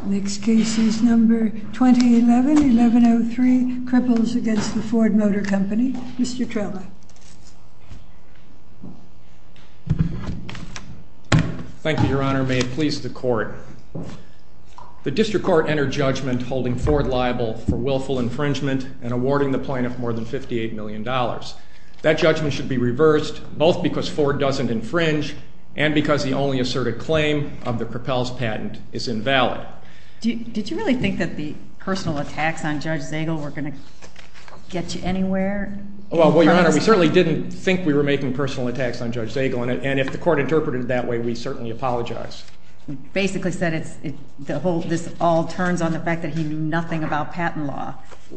2011-11-03 KRIPPELZ v. FORD MOTOR CO Thank you, Your Honor. May it please the Court. The District Court entered judgment holding Ford liable for willful infringement and awarding the plaintiff more than $58 million. That judgment should be reversed, both because Ford doesn't infringe and because the only asserted claim of the Krippelz patent is invalid. Did you really think that the personal attacks on Judge Zagel were going to get you anywhere? Well, Your Honor, we certainly didn't think we were making personal attacks on Judge Zagel, and if the Court interpreted it that way, we certainly apologize. You basically said this all turns on the fact that he knew nothing about patent law.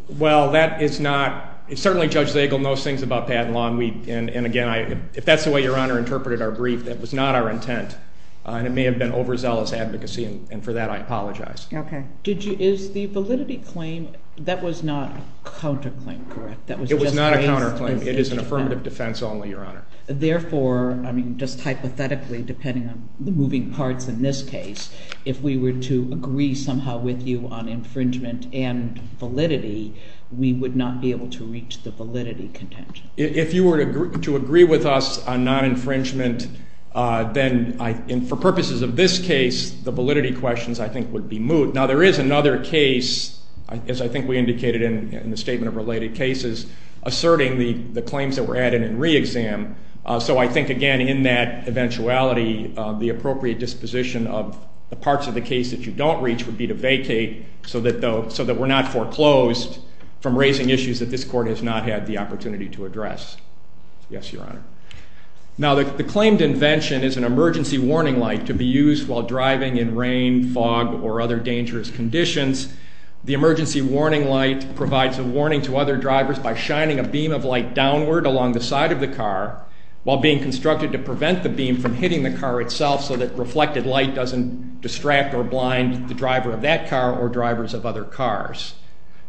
Well, that is not – certainly Judge Zagel knows things about patent law, and again, if that's the way Your Honor interpreted our brief, that was not our intent, and it may have been overzealous advocacy, and for that I apologize. Okay. Is the validity claim – that was not a counterclaim, correct? It was not a counterclaim. It is an affirmative defense only, Your Honor. Therefore, I mean, just hypothetically, depending on the moving parts in this case, if we were to agree somehow with you on infringement and validity, we would not be able to reach the validity contention. If you were to agree with us on non-infringement, then for purposes of this case, the validity questions I think would be moot. Now, there is another case, as I think we indicated in the statement of related cases, asserting the claims that were added in re-exam. So I think, again, in that eventuality, the appropriate disposition of the parts of the case that you don't reach would be to vacate so that we're not foreclosed from raising issues that this Court has not had the opportunity to address. Yes, Your Honor. Now, the claimed invention is an emergency warning light to be used while driving in rain, fog, or other dangerous conditions. The emergency warning light provides a warning to other drivers by shining a beam of light downward along the side of the car while being constructed to prevent the beam from hitting the car itself so that reflected light doesn't distract or blind the driver of that car or drivers of other cars.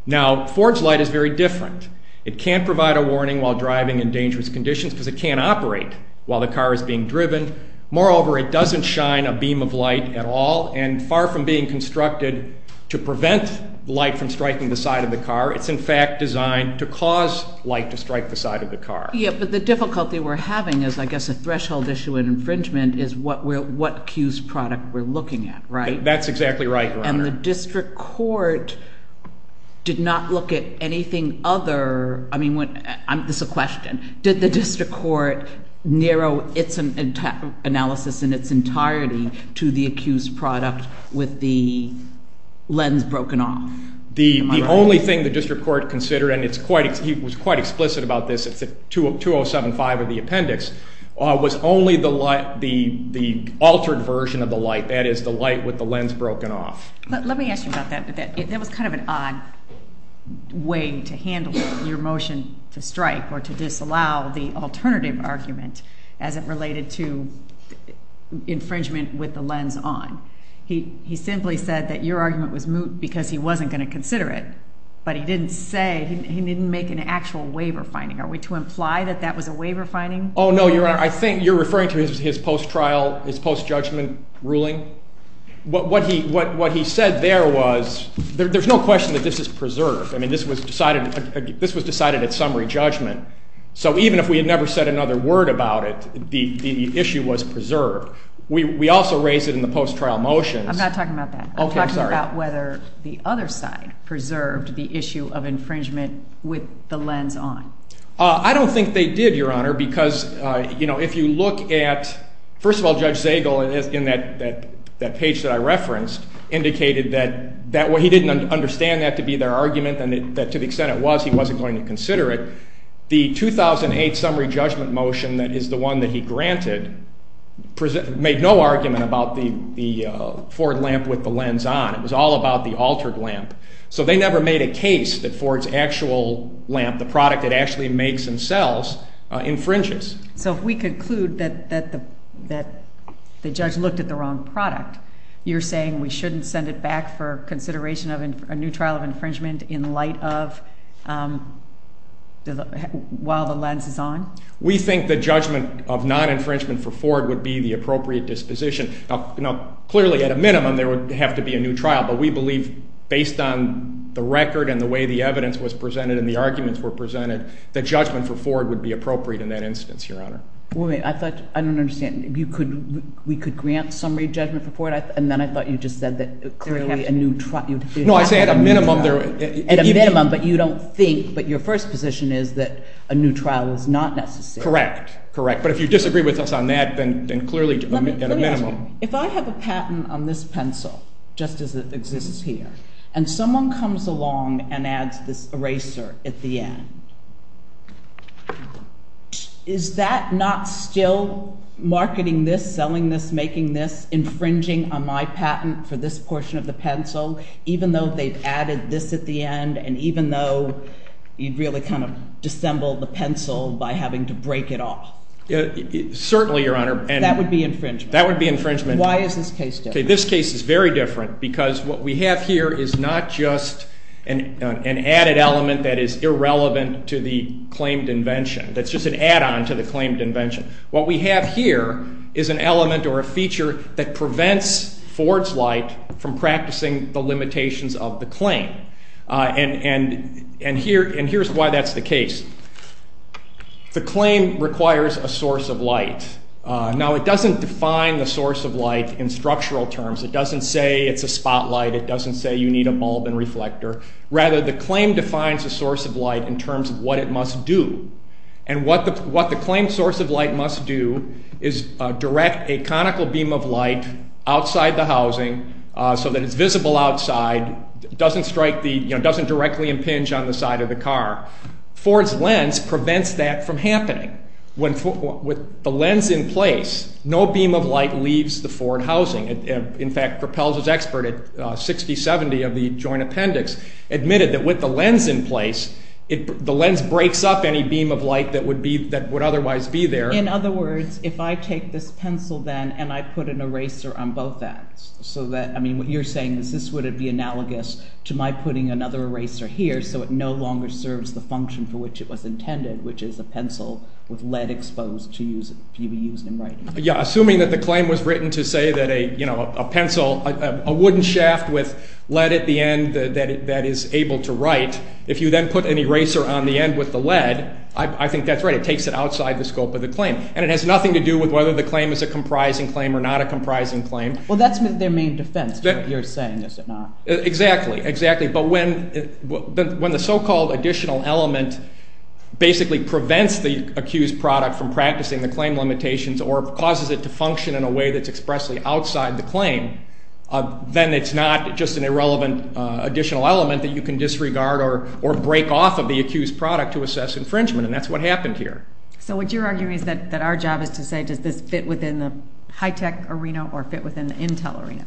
Now, Ford's light is very different. It can't provide a warning while driving in dangerous conditions because it can't operate while the car is being driven. Moreover, it doesn't shine a beam of light at all and far from being constructed to prevent light from striking the side of the car. It's, in fact, designed to cause light to strike the side of the car. Yes, but the difficulty we're having is, I guess, a threshold issue in infringement is what cues product we're looking at, right? That's exactly right, Your Honor. And the district court did not look at anything other. I mean, this is a question. Did the district court narrow its analysis in its entirety to the accused product with the lens broken off? The only thing the district court considered, and he was quite explicit about this, it's at 2075 of the appendix, was only the altered version of the light, that is, the light with the lens broken off. Let me ask you about that. That was kind of an odd way to handle your motion to strike or to disallow the alternative argument as it related to infringement with the lens on. He simply said that your argument was moot because he wasn't going to consider it, but he didn't say, he didn't make an actual waiver finding. Are we to imply that that was a waiver finding? Oh, no, Your Honor. I think you're referring to his post-trial, his post-judgment ruling. What he said there was, there's no question that this is preserved. I mean, this was decided at summary judgment. So even if we had never said another word about it, the issue was preserved. We also raised it in the post-trial motions. I'm not talking about that. I'm talking about whether the other side preserved the issue of infringement with the lens on. I don't think they did, Your Honor, because if you look at, first of all, Judge Zagel in that page that I referenced indicated that he didn't understand that to be their argument and that to the extent it was, he wasn't going to consider it. The 2008 summary judgment motion that is the one that he granted made no argument about the Ford lamp with the lens on. It was all about the altered lamp. So they never made a case that Ford's actual lamp, the product it actually makes and sells, infringes. So if we conclude that the judge looked at the wrong product, you're saying we shouldn't send it back for consideration of a new trial of infringement in light of while the lens is on? We think the judgment of non-infringement for Ford would be the appropriate disposition. Now, clearly at a minimum there would have to be a new trial, but we believe based on the record and the way the evidence was presented and the arguments were presented that judgment for Ford would be appropriate in that instance, Your Honor. Wait a minute. I don't understand. We could grant summary judgment for Ford and then I thought you just said that clearly a new trial. No, I said at a minimum. At a minimum, but you don't think, but your first position is that a new trial is not necessary. Correct. Correct. But if you disagree with us on that, then clearly at a minimum. Let me ask you. If I have a patent on this pencil, just as it exists here, and someone comes along and adds this eraser at the end, is that not still marketing this, selling this, making this, infringing on my patent for this portion of the pencil, even though they've added this at the end and even though you'd really kind of dissemble the pencil by having to break it off? Certainly, Your Honor. That would be infringement. That would be infringement. Why is this case different? This case is very different because what we have here is not just an added element that is irrelevant to the claimed invention. That's just an add-on to the claimed invention. What we have here is an element or a feature that prevents Ford's Light from practicing the limitations of the claim, and here's why that's the case. The claim requires a source of light. Now, it doesn't define the source of light in structural terms. It doesn't say it's a spotlight. It doesn't say you need a bulb and reflector. Rather, the claim defines a source of light in terms of what it must do, and what the claimed source of light must do is direct a conical beam of light outside the housing so that it's visible outside. It doesn't directly impinge on the side of the car. Ford's lens prevents that from happening. With the lens in place, no beam of light leaves the Ford housing. In fact, Propel's expert at 6070 of the Joint Appendix admitted that with the lens in place, the lens breaks up any beam of light that would otherwise be there. In other words, if I take this pencil, then, and I put an eraser on both ends, so that, I mean, what you're saying is this would be analogous to my putting another eraser here so it no longer serves the function for which it was intended, which is a pencil with lead exposed to be used in writing. Yeah, assuming that the claim was written to say that a pencil, a wooden shaft with lead at the end that is able to write, if you then put an eraser on the end with the lead, I think that's right. It takes it outside the scope of the claim. And it has nothing to do with whether the claim is a comprising claim or not a comprising claim. Well, that's their main defense, what you're saying, is it not? Exactly, exactly. But when the so-called additional element basically prevents the accused product from practicing the claim limitations or causes it to function in a way that's expressly outside the claim, then it's not just an irrelevant additional element that you can disregard or break off of the accused product to assess infringement, and that's what happened here. So what you're arguing is that our job is to say does this fit within the high-tech arena or fit within the Intel arena?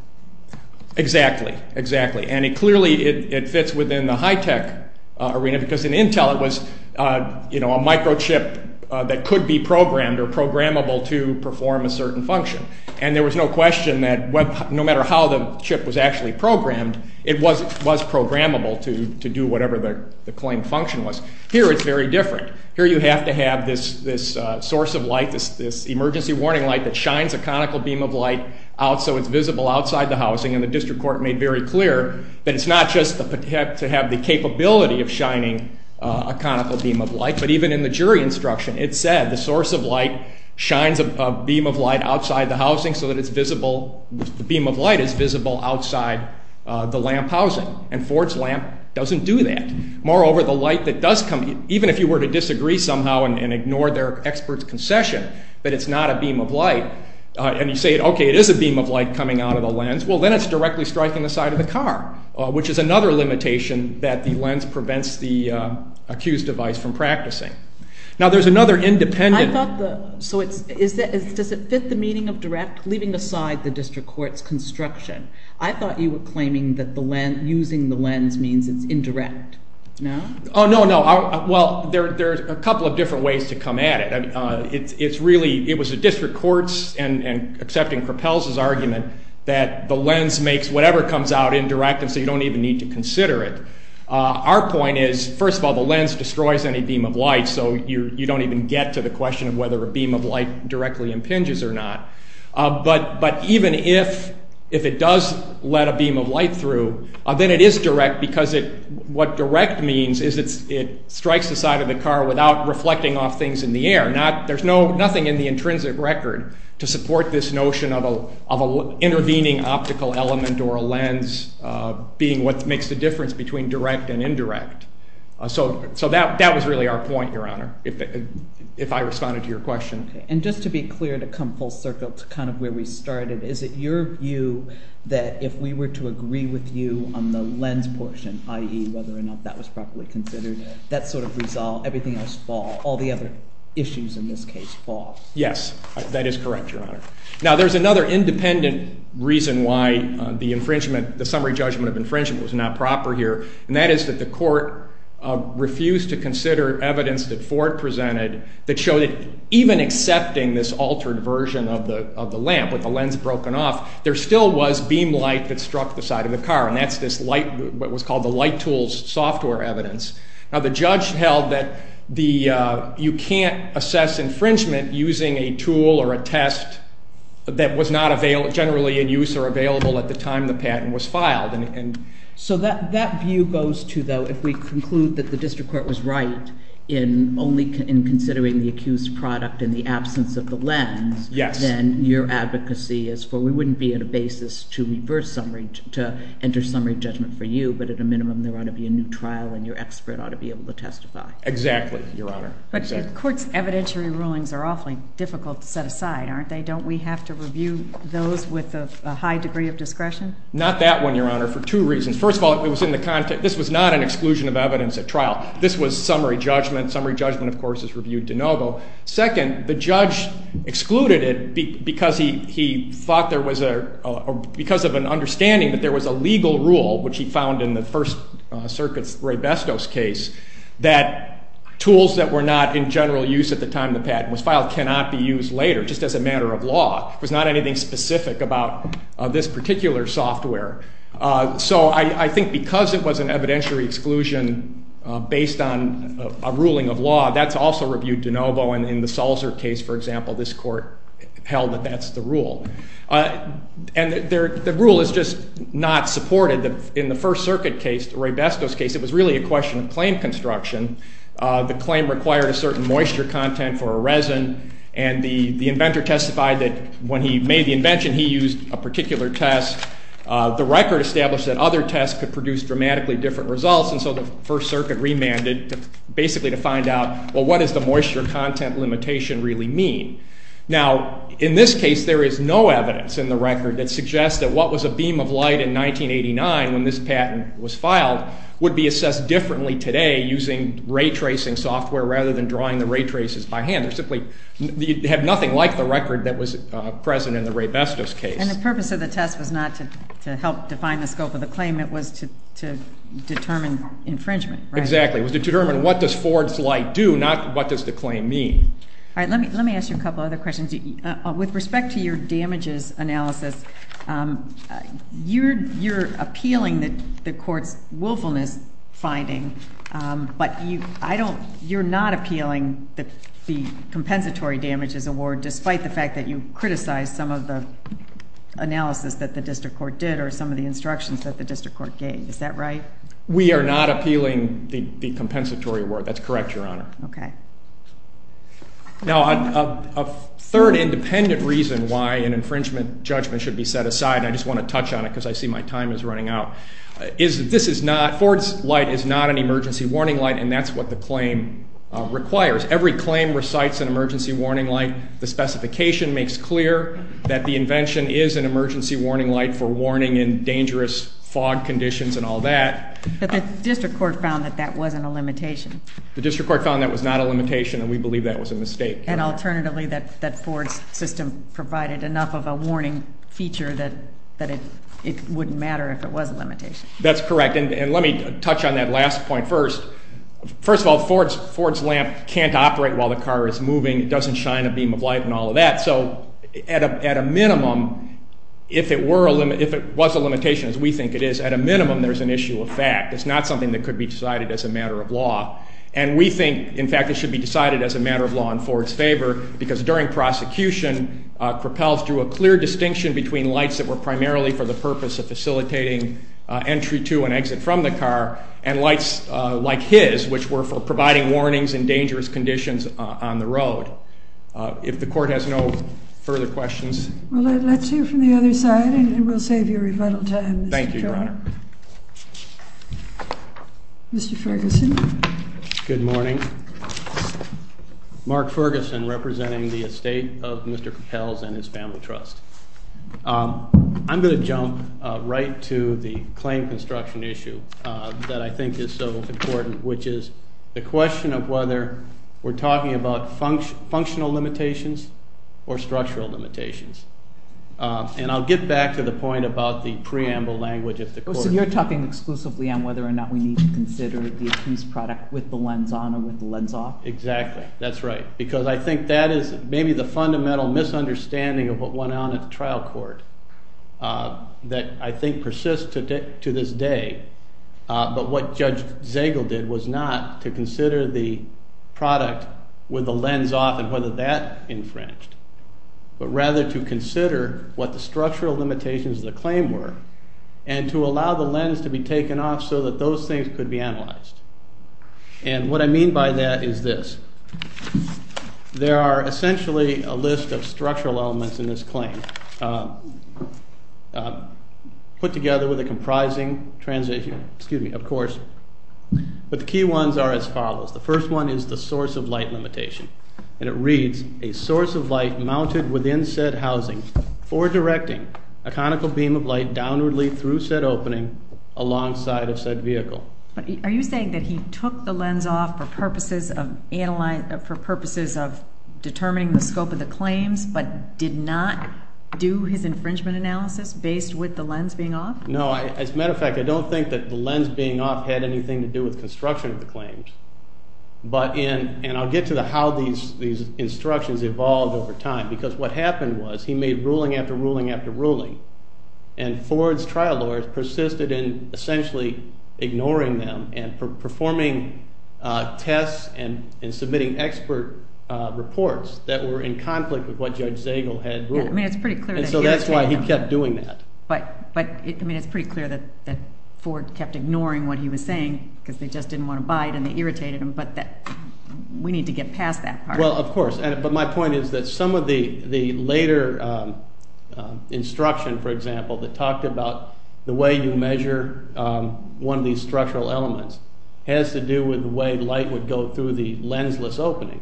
Exactly, exactly. And it clearly, it fits within the high-tech arena because in Intel it was, you know, a microchip that could be programmed or programmable to perform a certain function. And there was no question that no matter how the chip was actually programmed, it was programmable to do whatever the claim function was. Here it's very different. Here you have to have this source of light, this emergency warning light that shines a conical beam of light out so it's visible outside the housing, and the district court made very clear that it's not just to have the capability of shining a conical beam of light, but even in the jury instruction it said the source of light shines a beam of light outside the housing so that it's visible, the beam of light is visible outside the lamp housing, and Ford's lamp doesn't do that. Moreover, the light that does come, even if you were to disagree somehow and ignore their expert's concession that it's not a beam of light, and you say, okay, it is a beam of light coming out of the lens, well, then it's directly striking the side of the car, which is another limitation that the lens prevents the accused device from practicing. Now, there's another independent... I thought the... so does it fit the meaning of direct, leaving aside the district court's construction? I thought you were claiming that using the lens means it's indirect. No? Oh, no, no. Well, there's a couple of different ways to come at it. It's really... it was the district court's, and accepting Propel's argument, that the lens makes whatever comes out indirect, and so you don't even need to consider it. Our point is, first of all, the lens destroys any beam of light, so you don't even get to the question of whether a beam of light directly impinges or not. But even if it does let a beam of light through, then it is direct, because what direct means is it strikes the side of the car without reflecting off things in the air. There's nothing in the intrinsic record to support this notion of an intervening optical element or a lens being what makes the difference between direct and indirect. So that was really our point, Your Honor, if I responded to your question. And just to be clear, to come full circle to kind of where we started, is it your view that if we were to agree with you on the lens portion, i.e., whether or not that was properly considered, that sort of resolved everything else, all the other issues in this case, fall? Yes, that is correct, Your Honor. Now, there's another independent reason why the summary judgment of infringement was not proper here, and that is that the court refused to consider evidence that Ford presented that showed that even accepting this altered version of the lamp with the lens broken off, there still was beam light that struck the side of the car, and that's what was called the light tools software evidence. Now, the judge held that you can't assess infringement using a tool or a test that was not generally in use or available at the time the patent was filed. So that view goes to, though, if we conclude that the district court was right in considering the accused product in the absence of the lens, then your advocacy is for we wouldn't be on a basis to reverse summary, to enter summary judgment for you, but at a minimum there ought to be a new trial and your expert ought to be able to testify. Exactly, Your Honor. But courts' evidentiary rulings are awfully difficult to set aside, aren't they? Not that one, Your Honor, for two reasons. First of all, this was not an exclusion of evidence at trial. This was summary judgment. Summary judgment, of course, is reviewed de novo. Second, the judge excluded it because of an understanding that there was a legal rule, which he found in the First Circuit's Ray Bestos case, that tools that were not in general use at the time the patent was filed cannot be used later, just as a matter of law. There was not anything specific about this particular software. So I think because it was an evidentiary exclusion based on a ruling of law, that's also reviewed de novo, and in the Salzer case, for example, this court held that that's the rule. And the rule is just not supported. In the First Circuit case, the Ray Bestos case, it was really a question of claim construction. The claim required a certain moisture content for a resin, and the inventor testified that when he made the invention, he used a particular test. The record established that other tests could produce dramatically different results, and so the First Circuit remanded basically to find out, well, what does the moisture content limitation really mean? Now, in this case, there is no evidence in the record that suggests that what was a beam of light in 1989, when this patent was filed, would be assessed differently today using ray tracing software rather than drawing the ray traces by hand. They simply have nothing like the record that was present in the Ray Bestos case. And the purpose of the test was not to help define the scope of the claim. It was to determine infringement, right? Exactly. It was to determine what does Ford's light do, not what does the claim mean. All right. Let me ask you a couple other questions. With respect to your damages analysis, you're appealing the court's willfulness finding, but you're not appealing the compensatory damages award, despite the fact that you criticized some of the analysis that the district court did or some of the instructions that the district court gave. Is that right? We are not appealing the compensatory award. That's correct, Your Honor. Okay. Now, a third independent reason why an infringement judgment should be set aside, and I just want to touch on it because I see my time is running out, is that this is not, Ford's light is not an emergency warning light, and that's what the claim requires. Every claim recites an emergency warning light. The specification makes clear that the invention is an emergency warning light for warning in dangerous fog conditions and all that. But the district court found that that wasn't a limitation. The district court found that was not a limitation, and we believe that was a mistake. And alternatively, that Ford's system provided enough of a warning feature that it wouldn't matter if it was a limitation. That's correct. And let me touch on that last point first. First of all, Ford's lamp can't operate while the car is moving. It doesn't shine a beam of light and all of that. So at a minimum, if it was a limitation, as we think it is, at a minimum there's an issue of fact. It's not something that could be decided as a matter of law. And we think, in fact, it should be decided as a matter of law in Ford's favor because during prosecution, Cropels drew a clear distinction between lights that were primarily for the purpose of facilitating entry to and exit from the car and lights like his, which were for providing warnings in dangerous conditions on the road. If the court has no further questions. Well, let's hear from the other side, and we'll save you rebuttal time. Thank you, Your Honor. Mr. Ferguson. Good morning. Mark Ferguson, representing the estate of Mr. Cropels and his family trust. I'm going to jump right to the claim construction issue that I think is so important, which is the question of whether we're talking about functional limitations or structural limitations. And I'll get back to the point about the preamble language if the court will. So you're talking exclusively on whether or not we need to consider the lens off? Exactly. That's right, because I think that is maybe the fundamental misunderstanding of what went on at the trial court that I think persists to this day. But what Judge Zagel did was not to consider the product with the lens off and whether that infringed, but rather to consider what the structural limitations of the claim were and to allow the lens to be taken off so that those things could be analyzed. And what I mean by that is this. There are essentially a list of structural elements in this claim put together with a comprising transition, excuse me, of course. But the key ones are as follows. The first one is the source of light limitation, and it reads, a source of light mounted within said housing for directing a conical beam of light downwardly through said opening alongside of said vehicle. Are you saying that he took the lens off for purposes of determining the scope of the claims but did not do his infringement analysis based with the lens being off? No. As a matter of fact, I don't think that the lens being off had anything to do with construction of the claims. And I'll get to how these instructions evolved over time, because what happened was he made ruling after ruling after ruling, and Ford's trial lawyers persisted in essentially ignoring them and performing tests and submitting expert reports that were in conflict with what Judge Zagel had ruled. Yeah, I mean it's pretty clear that he irritated them. And so that's why he kept doing that. But, I mean, it's pretty clear that Ford kept ignoring what he was saying because they just didn't want to buy it and it irritated him, but we need to get past that part. Well, of course. But my point is that some of the later instruction, for example, that talked about the way you measure one of these structural elements has to do with the way light would go through the lensless opening.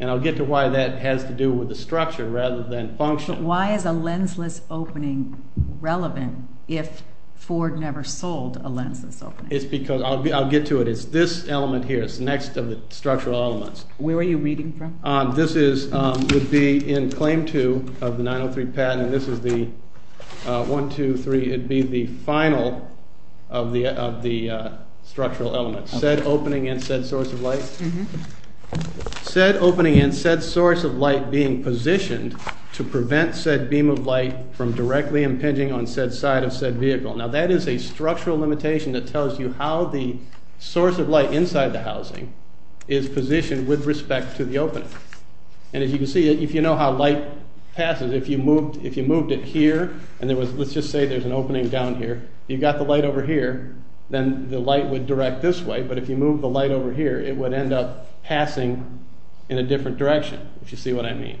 And I'll get to why that has to do with the structure rather than function. But why is a lensless opening relevant if Ford never sold a lensless opening? I'll get to it. It's this element here. It's next to the structural elements. Where are you reading from? This would be in Claim 2 of the 903 patent. This is the 1, 2, 3. It would be the final of the structural elements. Said opening and said source of light. Said opening and said source of light being positioned to prevent said beam of light from directly impinging on said side of said vehicle. Now that is a structural limitation that tells you how the source of light inside the housing is positioned with respect to the opening. And as you can see, if you know how light passes, if you moved it here and let's just say there's an opening down here, you got the light over here, then the light would direct this way. But if you moved the light over here, it would end up passing in a different direction, if you see what I mean.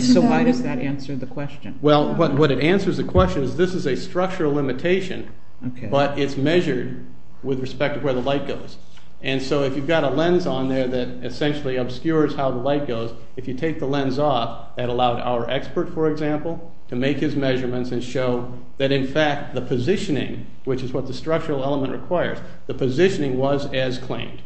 So why does that answer the question? Well, what it answers the question is this is a structural limitation, but it's measured with respect to where the light goes. And so if you've got a lens on there that essentially obscures how the light goes, if you take the lens off, that allowed our expert, for example, to make his measurements and show that in fact the positioning, which is what the structural element requires, the positioning was as claimed.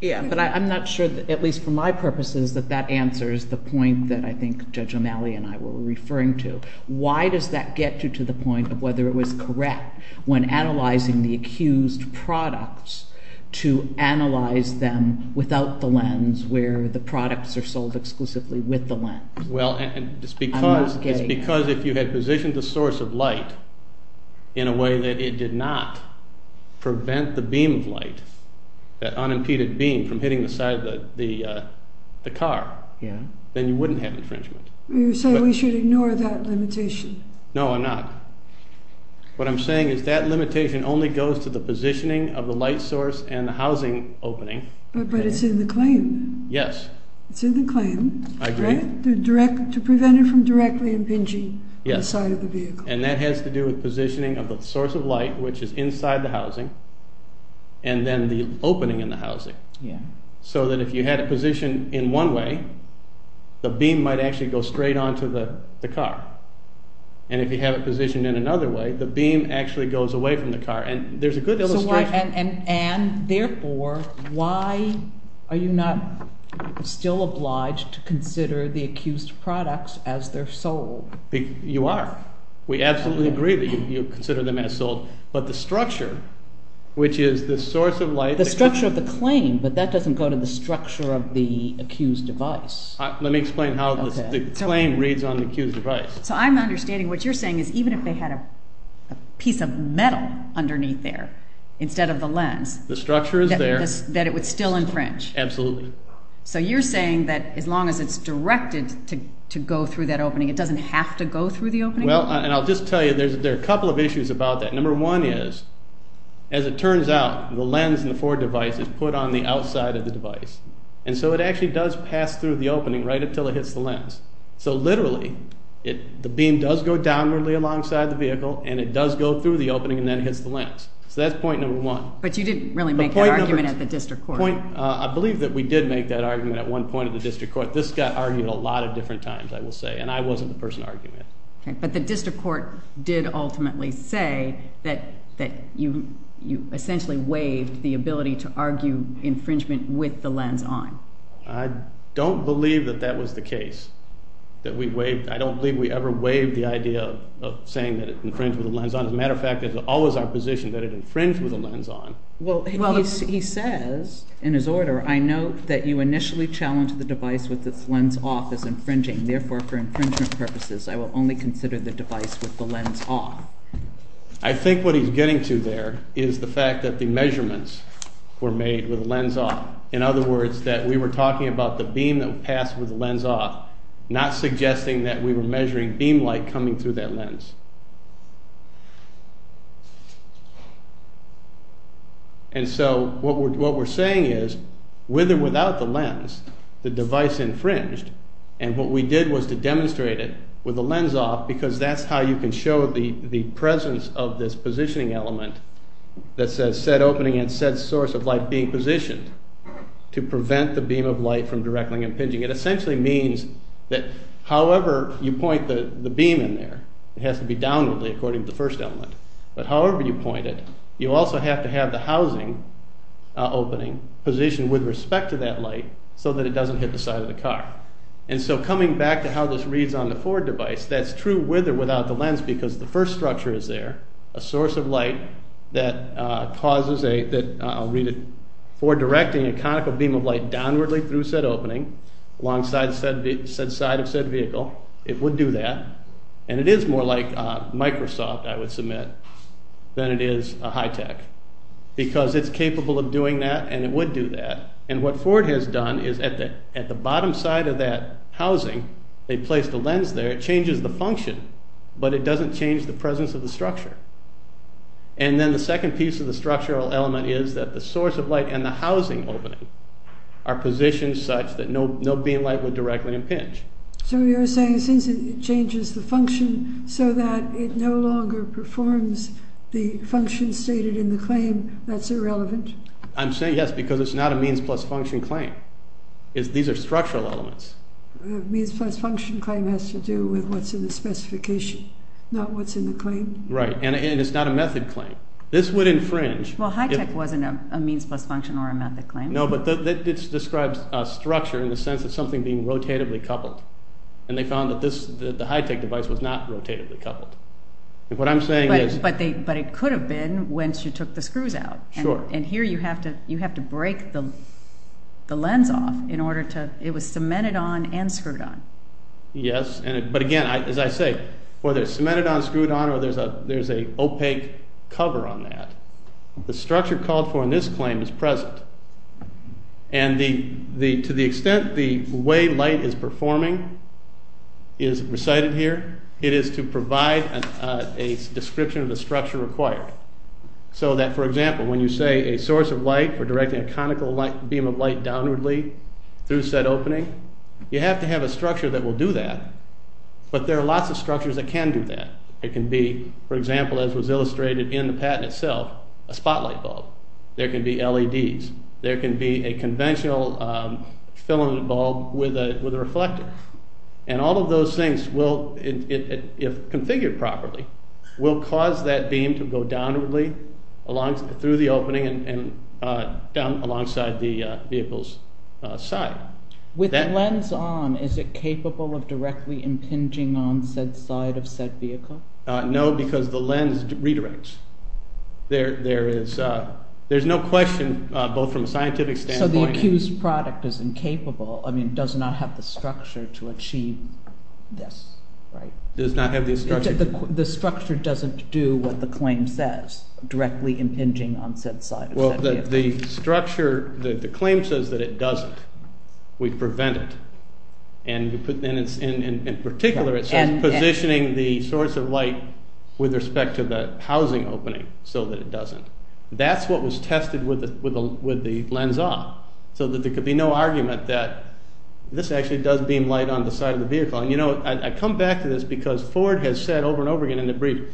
Yeah, but I'm not sure, at least for my purposes, that that answers the point that I think Judge O'Malley and I were referring to. Why does that get you to the point of whether it was correct when analyzing the accused products to analyze them without the lens where the products are sold exclusively with the lens? Well, it's because if you had positioned the source of light in a way that it did not prevent the beam of light, that unimpeded beam from hitting the side of the car, then you wouldn't have infringement. You're saying we should ignore that limitation. No, I'm not. What I'm saying is that limitation only goes to the positioning of the light source and the housing opening. But it's in the claim. Yes. It's in the claim. I agree. To prevent it from directly impinging on the side of the vehicle. Yes, and that has to do with positioning of the source of light, which is inside the housing, and then the opening in the housing. So that if you had it positioned in one way, the beam might actually go straight onto the car. And if you have it positioned in another way, the beam actually goes away from the car. And there's a good illustration. And therefore, why are you not still obliged to consider the accused products as they're sold? You are. We absolutely agree that you consider them as sold. But the structure, which is the source of light. The structure of the claim, but that doesn't go to the structure of the accused device. Let me explain how the claim reads on the accused device. So I'm understanding what you're saying is even if they had a piece of metal underneath there instead of the lens. The structure is there. That it would still infringe. Absolutely. So you're saying that as long as it's directed to go through that opening, it doesn't have to go through the opening? Well, and I'll just tell you, there are a couple of issues about that. Number one is, as it turns out, the lens in the Ford device is put on the outside of the device. And so it actually does pass through the opening right until it hits the lens. So literally, the beam does go downwardly alongside the vehicle, and it does go through the opening and then hits the lens. So that's point number one. But you didn't really make that argument at the district court. I believe that we did make that argument at one point at the district court. This got argued a lot of different times, I will say, and I wasn't the person arguing it. But the district court did ultimately say that you essentially waived the ability to argue infringement with the lens on. I don't believe that that was the case, that we waived. I don't believe we ever waived the idea of saying that it infringed with the lens on. As a matter of fact, it's always our position that it infringed with the lens on. Well, he says in his order, I note that you initially challenged the device with its lens off as infringing. Therefore, for infringement purposes, I will only consider the device with the lens off. I think what he's getting to there is the fact that the measurements were made with the lens off. In other words, that we were talking about the beam that would pass with the lens off, not suggesting that we were measuring beam light coming through that lens. And so what we're saying is, with or without the lens, the device infringed. And what we did was to demonstrate it with the lens off because that's how you can show the presence of this positioning element that says set opening and set source of light being positioned to prevent the beam of light from directly impinging. It essentially means that however you point the beam in there, it has to be downwardly according to the first element. But however you point it, you also have to have the housing opening positioned with respect to that light so that it doesn't hit the side of the car. And so coming back to how this reads on the Ford device, that's true with or without the lens because the first structure is there, a source of light that causes a, I'll read it, for directing a conical beam of light downwardly through set opening alongside said side of said vehicle. It would do that. And it is more like Microsoft, I would submit, than it is high tech because it's capable of doing that and it would do that. And what Ford has done is at the bottom side of that housing, they placed a lens there, it changes the function, but it doesn't change the presence of the structure. And then the second piece of the structural element is that the source of light and the housing opening are positioned such that no beam of light would directly impinge. So you're saying since it changes the function so that it no longer performs the function stated in the claim, that's irrelevant? I'm saying yes because it's not a means plus function claim. These are structural elements. Means plus function claim has to do with what's in the specification, not what's in the claim. Right, and it's not a method claim. This would infringe. Well, high tech wasn't a means plus function or a method claim. No, but it describes structure in the sense of something being rotatively coupled. And they found that the high tech device was not rotatively coupled. What I'm saying is. But it could have been when she took the screws out. Sure. And here you have to break the lens off in order to. It was cemented on and screwed on. Yes, but again, as I say, whether it's cemented on, screwed on, or there's an opaque cover on that, the structure called for in this claim is present. And to the extent the way light is performing is recited here, it is to provide a description of the structure required. So that, for example, when you say a source of light for directing a conical beam of light downwardly through said opening, you have to have a structure that will do that. But there are lots of structures that can do that. It can be, for example, as was illustrated in the patent itself, a spotlight bulb. There can be LEDs. There can be a conventional filament bulb with a reflector. And all of those things, if configured properly, will cause that beam to go downwardly through the opening and down alongside the vehicle's side. With the lens on, is it capable of directly impinging on said side of said vehicle? No, because the lens redirects. There is no question, both from a scientific standpoint. So the accused product is incapable, I mean, does not have the structure to achieve this, right? The structure doesn't do what the claim says, directly impinging on said side of said vehicle. Well, the claim says that it doesn't. We prevent it. And in particular, it says positioning the source of light with respect to the housing opening so that it doesn't. That's what was tested with the lens off, so that there could be no argument that this actually does beam light on the side of the vehicle. And, you know, I come back to this because Ford has said over and over again in a brief,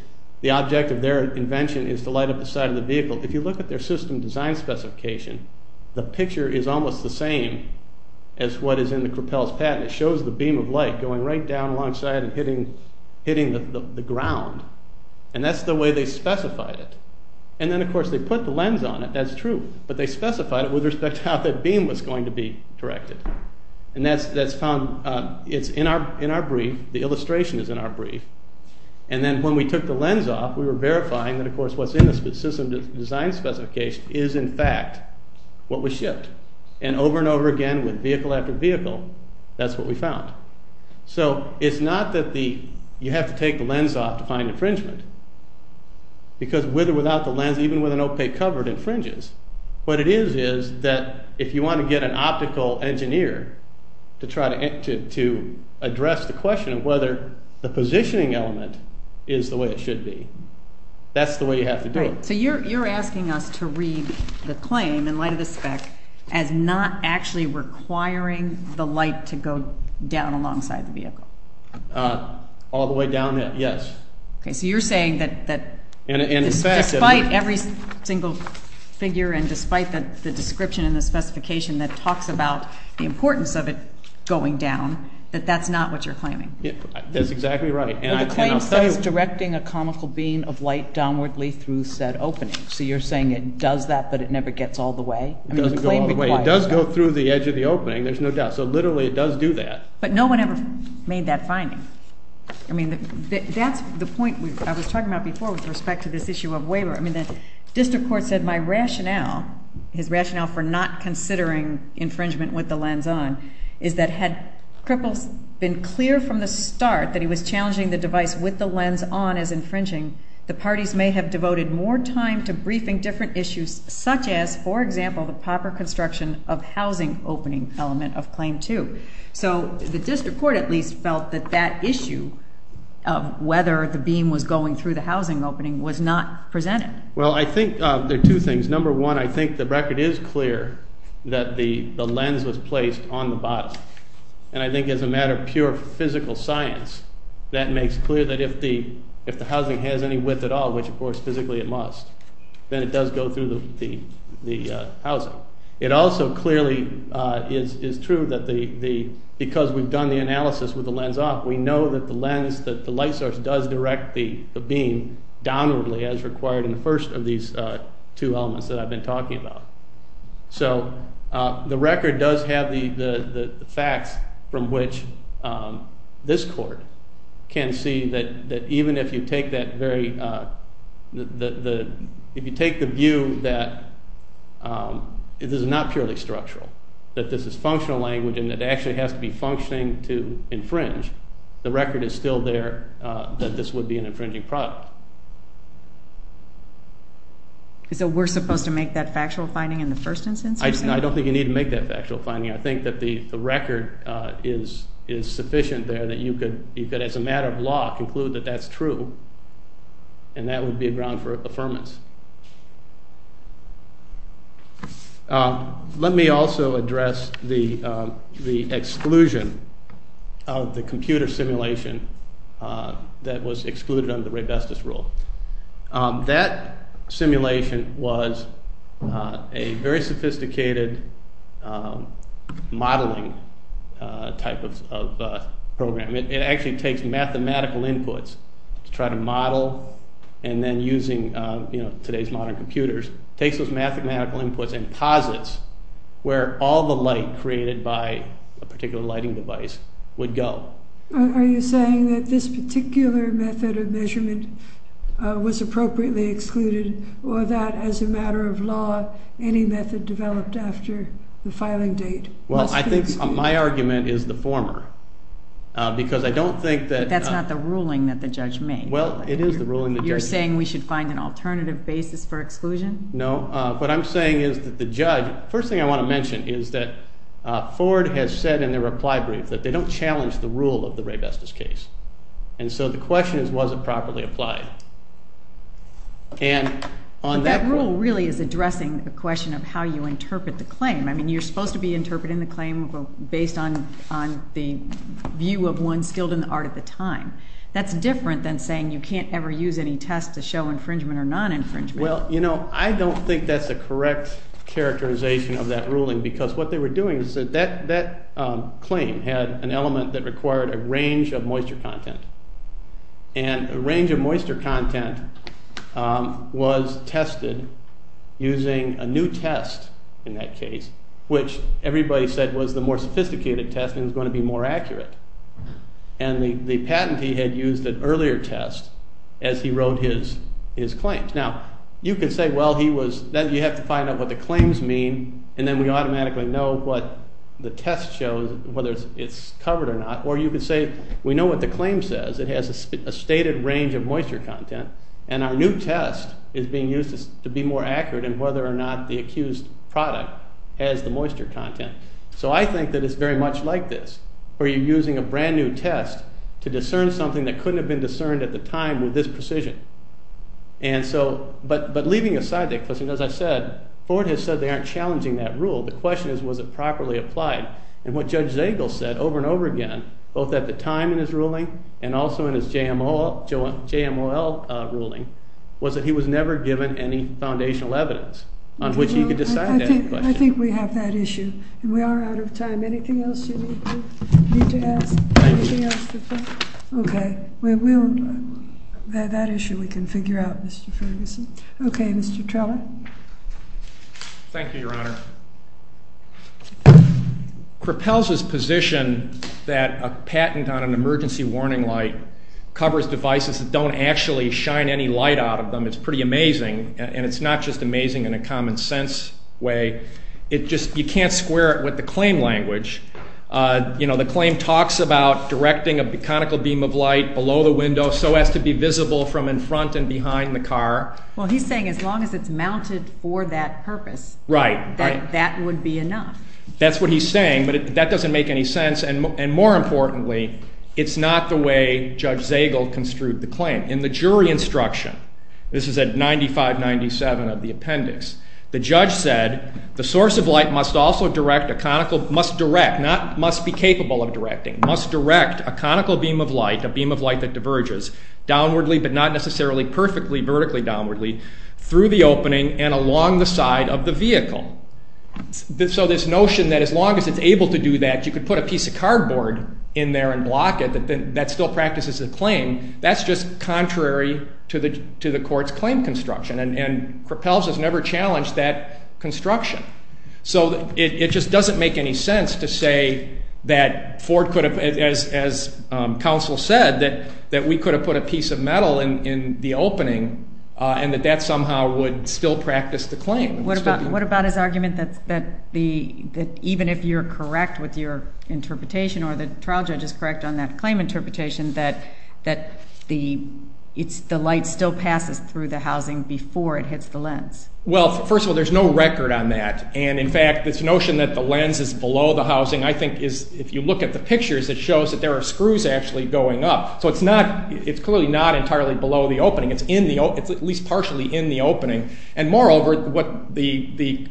the object of their invention is to light up the side of the vehicle. If you look at their system design specification, the picture is almost the same as what is in the Crapel's patent. It shows the beam of light going right down alongside and hitting the ground. And that's the way they specified it. And then, of course, they put the lens on it, that's true, but they specified it with respect to how that beam was going to be directed. And that's found. It's in our brief. The illustration is in our brief. And then when we took the lens off, we were verifying that, of course, what's in the system design specification is, in fact, what was shipped. And over and over again, with vehicle after vehicle, that's what we found. So it's not that you have to take the lens off to find infringement because with or without the lens, even with an opaque cover, it infringes. What it is is that if you want to get an optical engineer to address the question of whether the positioning element is the way it should be, that's the way you have to do it. So you're asking us to read the claim in light of the spec as not actually requiring the light to go down alongside the vehicle. All the way down it, yes. Okay, so you're saying that despite every single figure and despite the description and the specification that talks about the importance of it going down, that that's not what you're claiming. That's exactly right. Well, the claim says directing a comical beam of light downwardly through said opening. So you're saying it does that but it never gets all the way? It doesn't go all the way. It does go through the edge of the opening, there's no doubt. So literally it does do that. But no one ever made that finding. I mean, that's the point I was talking about before with respect to this issue of waiver. I mean, the district court said my rationale, his rationale for not considering infringement with the lens on, is that had Kripal been clear from the start that he was challenging the device with the lens on as infringing, the parties may have devoted more time to briefing different issues such as, for example, the proper construction of housing opening element of Claim 2. So the district court at least felt that that issue of whether the beam was going through the housing opening was not presented. Well, I think there are two things. Number one, I think the record is clear that the lens was placed on the bottom. And I think as a matter of pure physical science, that makes clear that if the housing has any width at all, which, of course, physically it must, then it does go through the housing. It also clearly is true that because we've done the analysis with the lens off, we know that the lens, that the light source does direct the beam downwardly as required in the first of these two elements that I've been talking about. So the record does have the facts from which this court can see that even if you take the view that this is not purely structural, that this is functional language and it actually has to be functioning to infringe, the record is still there that this would be an infringing product. So we're supposed to make that factual finding in the first instance, you're saying? I don't think you need to make that factual finding. I think that the record is sufficient there and that you could, as a matter of law, conclude that that's true and that would be a ground for affirmance. Let me also address the exclusion of the computer simulation that was excluded under the Raybestos rule. That simulation was a very sophisticated modeling type of program. It actually takes mathematical inputs to try to model and then using today's modern computers, takes those mathematical inputs and posits where all the light created by a particular lighting device would go. Are you saying that this particular method of measurement was appropriately excluded or that, as a matter of law, any method developed after the filing date? Well, I think my argument is the former because I don't think that... That's not the ruling that the judge made. Well, it is the ruling that... You're saying we should find an alternative basis for exclusion? No, what I'm saying is that the judge... First thing I want to mention is that Ford has said in the reply brief that they don't challenge the rule of the Raybestos case and so the question is, was it properly applied? That rule really is addressing the question of how you interpret the claim. I mean, you're supposed to be interpreting the claim based on the view of one skilled in the art at the time. That's different than saying you can't ever use any test to show infringement or non-infringement. Well, you know, I don't think that's the correct characterization of that ruling because what they were doing is that that claim had an element that required a range of moisture content. And a range of moisture content was tested using a new test, in that case, which everybody said was the more sophisticated test and was going to be more accurate. And the patentee had used an earlier test as he wrote his claims. Now, you could say, well, he was... Then you have to find out what the claims mean and then we automatically know what the test shows, whether it's covered or not. Or you could say, we know what the claim says. It has a stated range of moisture content. And our new test is being used to be more accurate in whether or not the accused product has the moisture content. So I think that it's very much like this, where you're using a brand-new test to discern something that couldn't have been discerned at the time with this precision. And so, but leaving aside that question, as I said, Ford has said they aren't challenging that rule. The question is, was it properly applied? And what Judge Zagel said over and over again, both at the time in his ruling and also in his JMOL ruling, was that he was never given any foundational evidence on which he could decide that question. I think we have that issue. And we are out of time. Anything else you need to ask? Thank you. Okay. That issue we can figure out, Mr. Ferguson. Okay, Mr. Trella. Thank you, Your Honor. It propels his position that a patent on an emergency warning light covers devices that don't actually shine any light out of them. It's pretty amazing. And it's not just amazing in a common-sense way. You can't square it with the claim language. You know, the claim talks about directing a conical beam of light below the window so as to be visible from in front and behind the car. Well, he's saying as long as it's mounted for that purpose, that would be enough. That's what he's saying, but that doesn't make any sense. And more importantly, it's not the way Judge Zagel construed the claim. In the jury instruction, this is at 95-97 of the appendix, the judge said the source of light must also direct a conical, must direct, not must be capable of directing, must direct a conical beam of light, a beam of light that diverges, downwardly but not necessarily perfectly vertically downwardly, through the opening and along the side of the vehicle. So this notion that as long as it's able to do that, you could put a piece of cardboard in there and block it, that still practices the claim, that's just contrary to the court's claim construction. And Propelz has never challenged that construction. So it just doesn't make any sense to say that Ford could have, as counsel said, that we could have put a piece of metal in the opening and that that somehow would still practice the claim. What about his argument that even if you're correct with your interpretation or the trial judge is correct on that claim interpretation, that the light still passes through the housing before it hits the lens? Well, first of all, there's no record on that. And, in fact, this notion that the lens is below the housing, I think if you look at the pictures, it shows that there are screws actually going up. So it's clearly not entirely below the opening. It's at least partially in the opening. And, moreover, the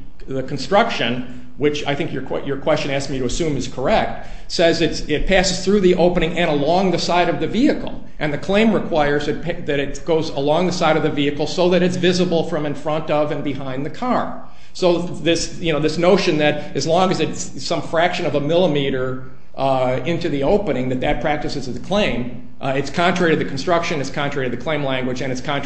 construction, which I think your question asked me to assume is correct, says it passes through the opening and along the side of the vehicle. And the claim requires that it goes along the side of the vehicle so that it's visible from in front of and behind the car. So this notion that as long as it's some fraction of a millimeter into the opening that that practices the claim, it's contrary to the construction, it's contrary to the claim language, and it's contrary to the law.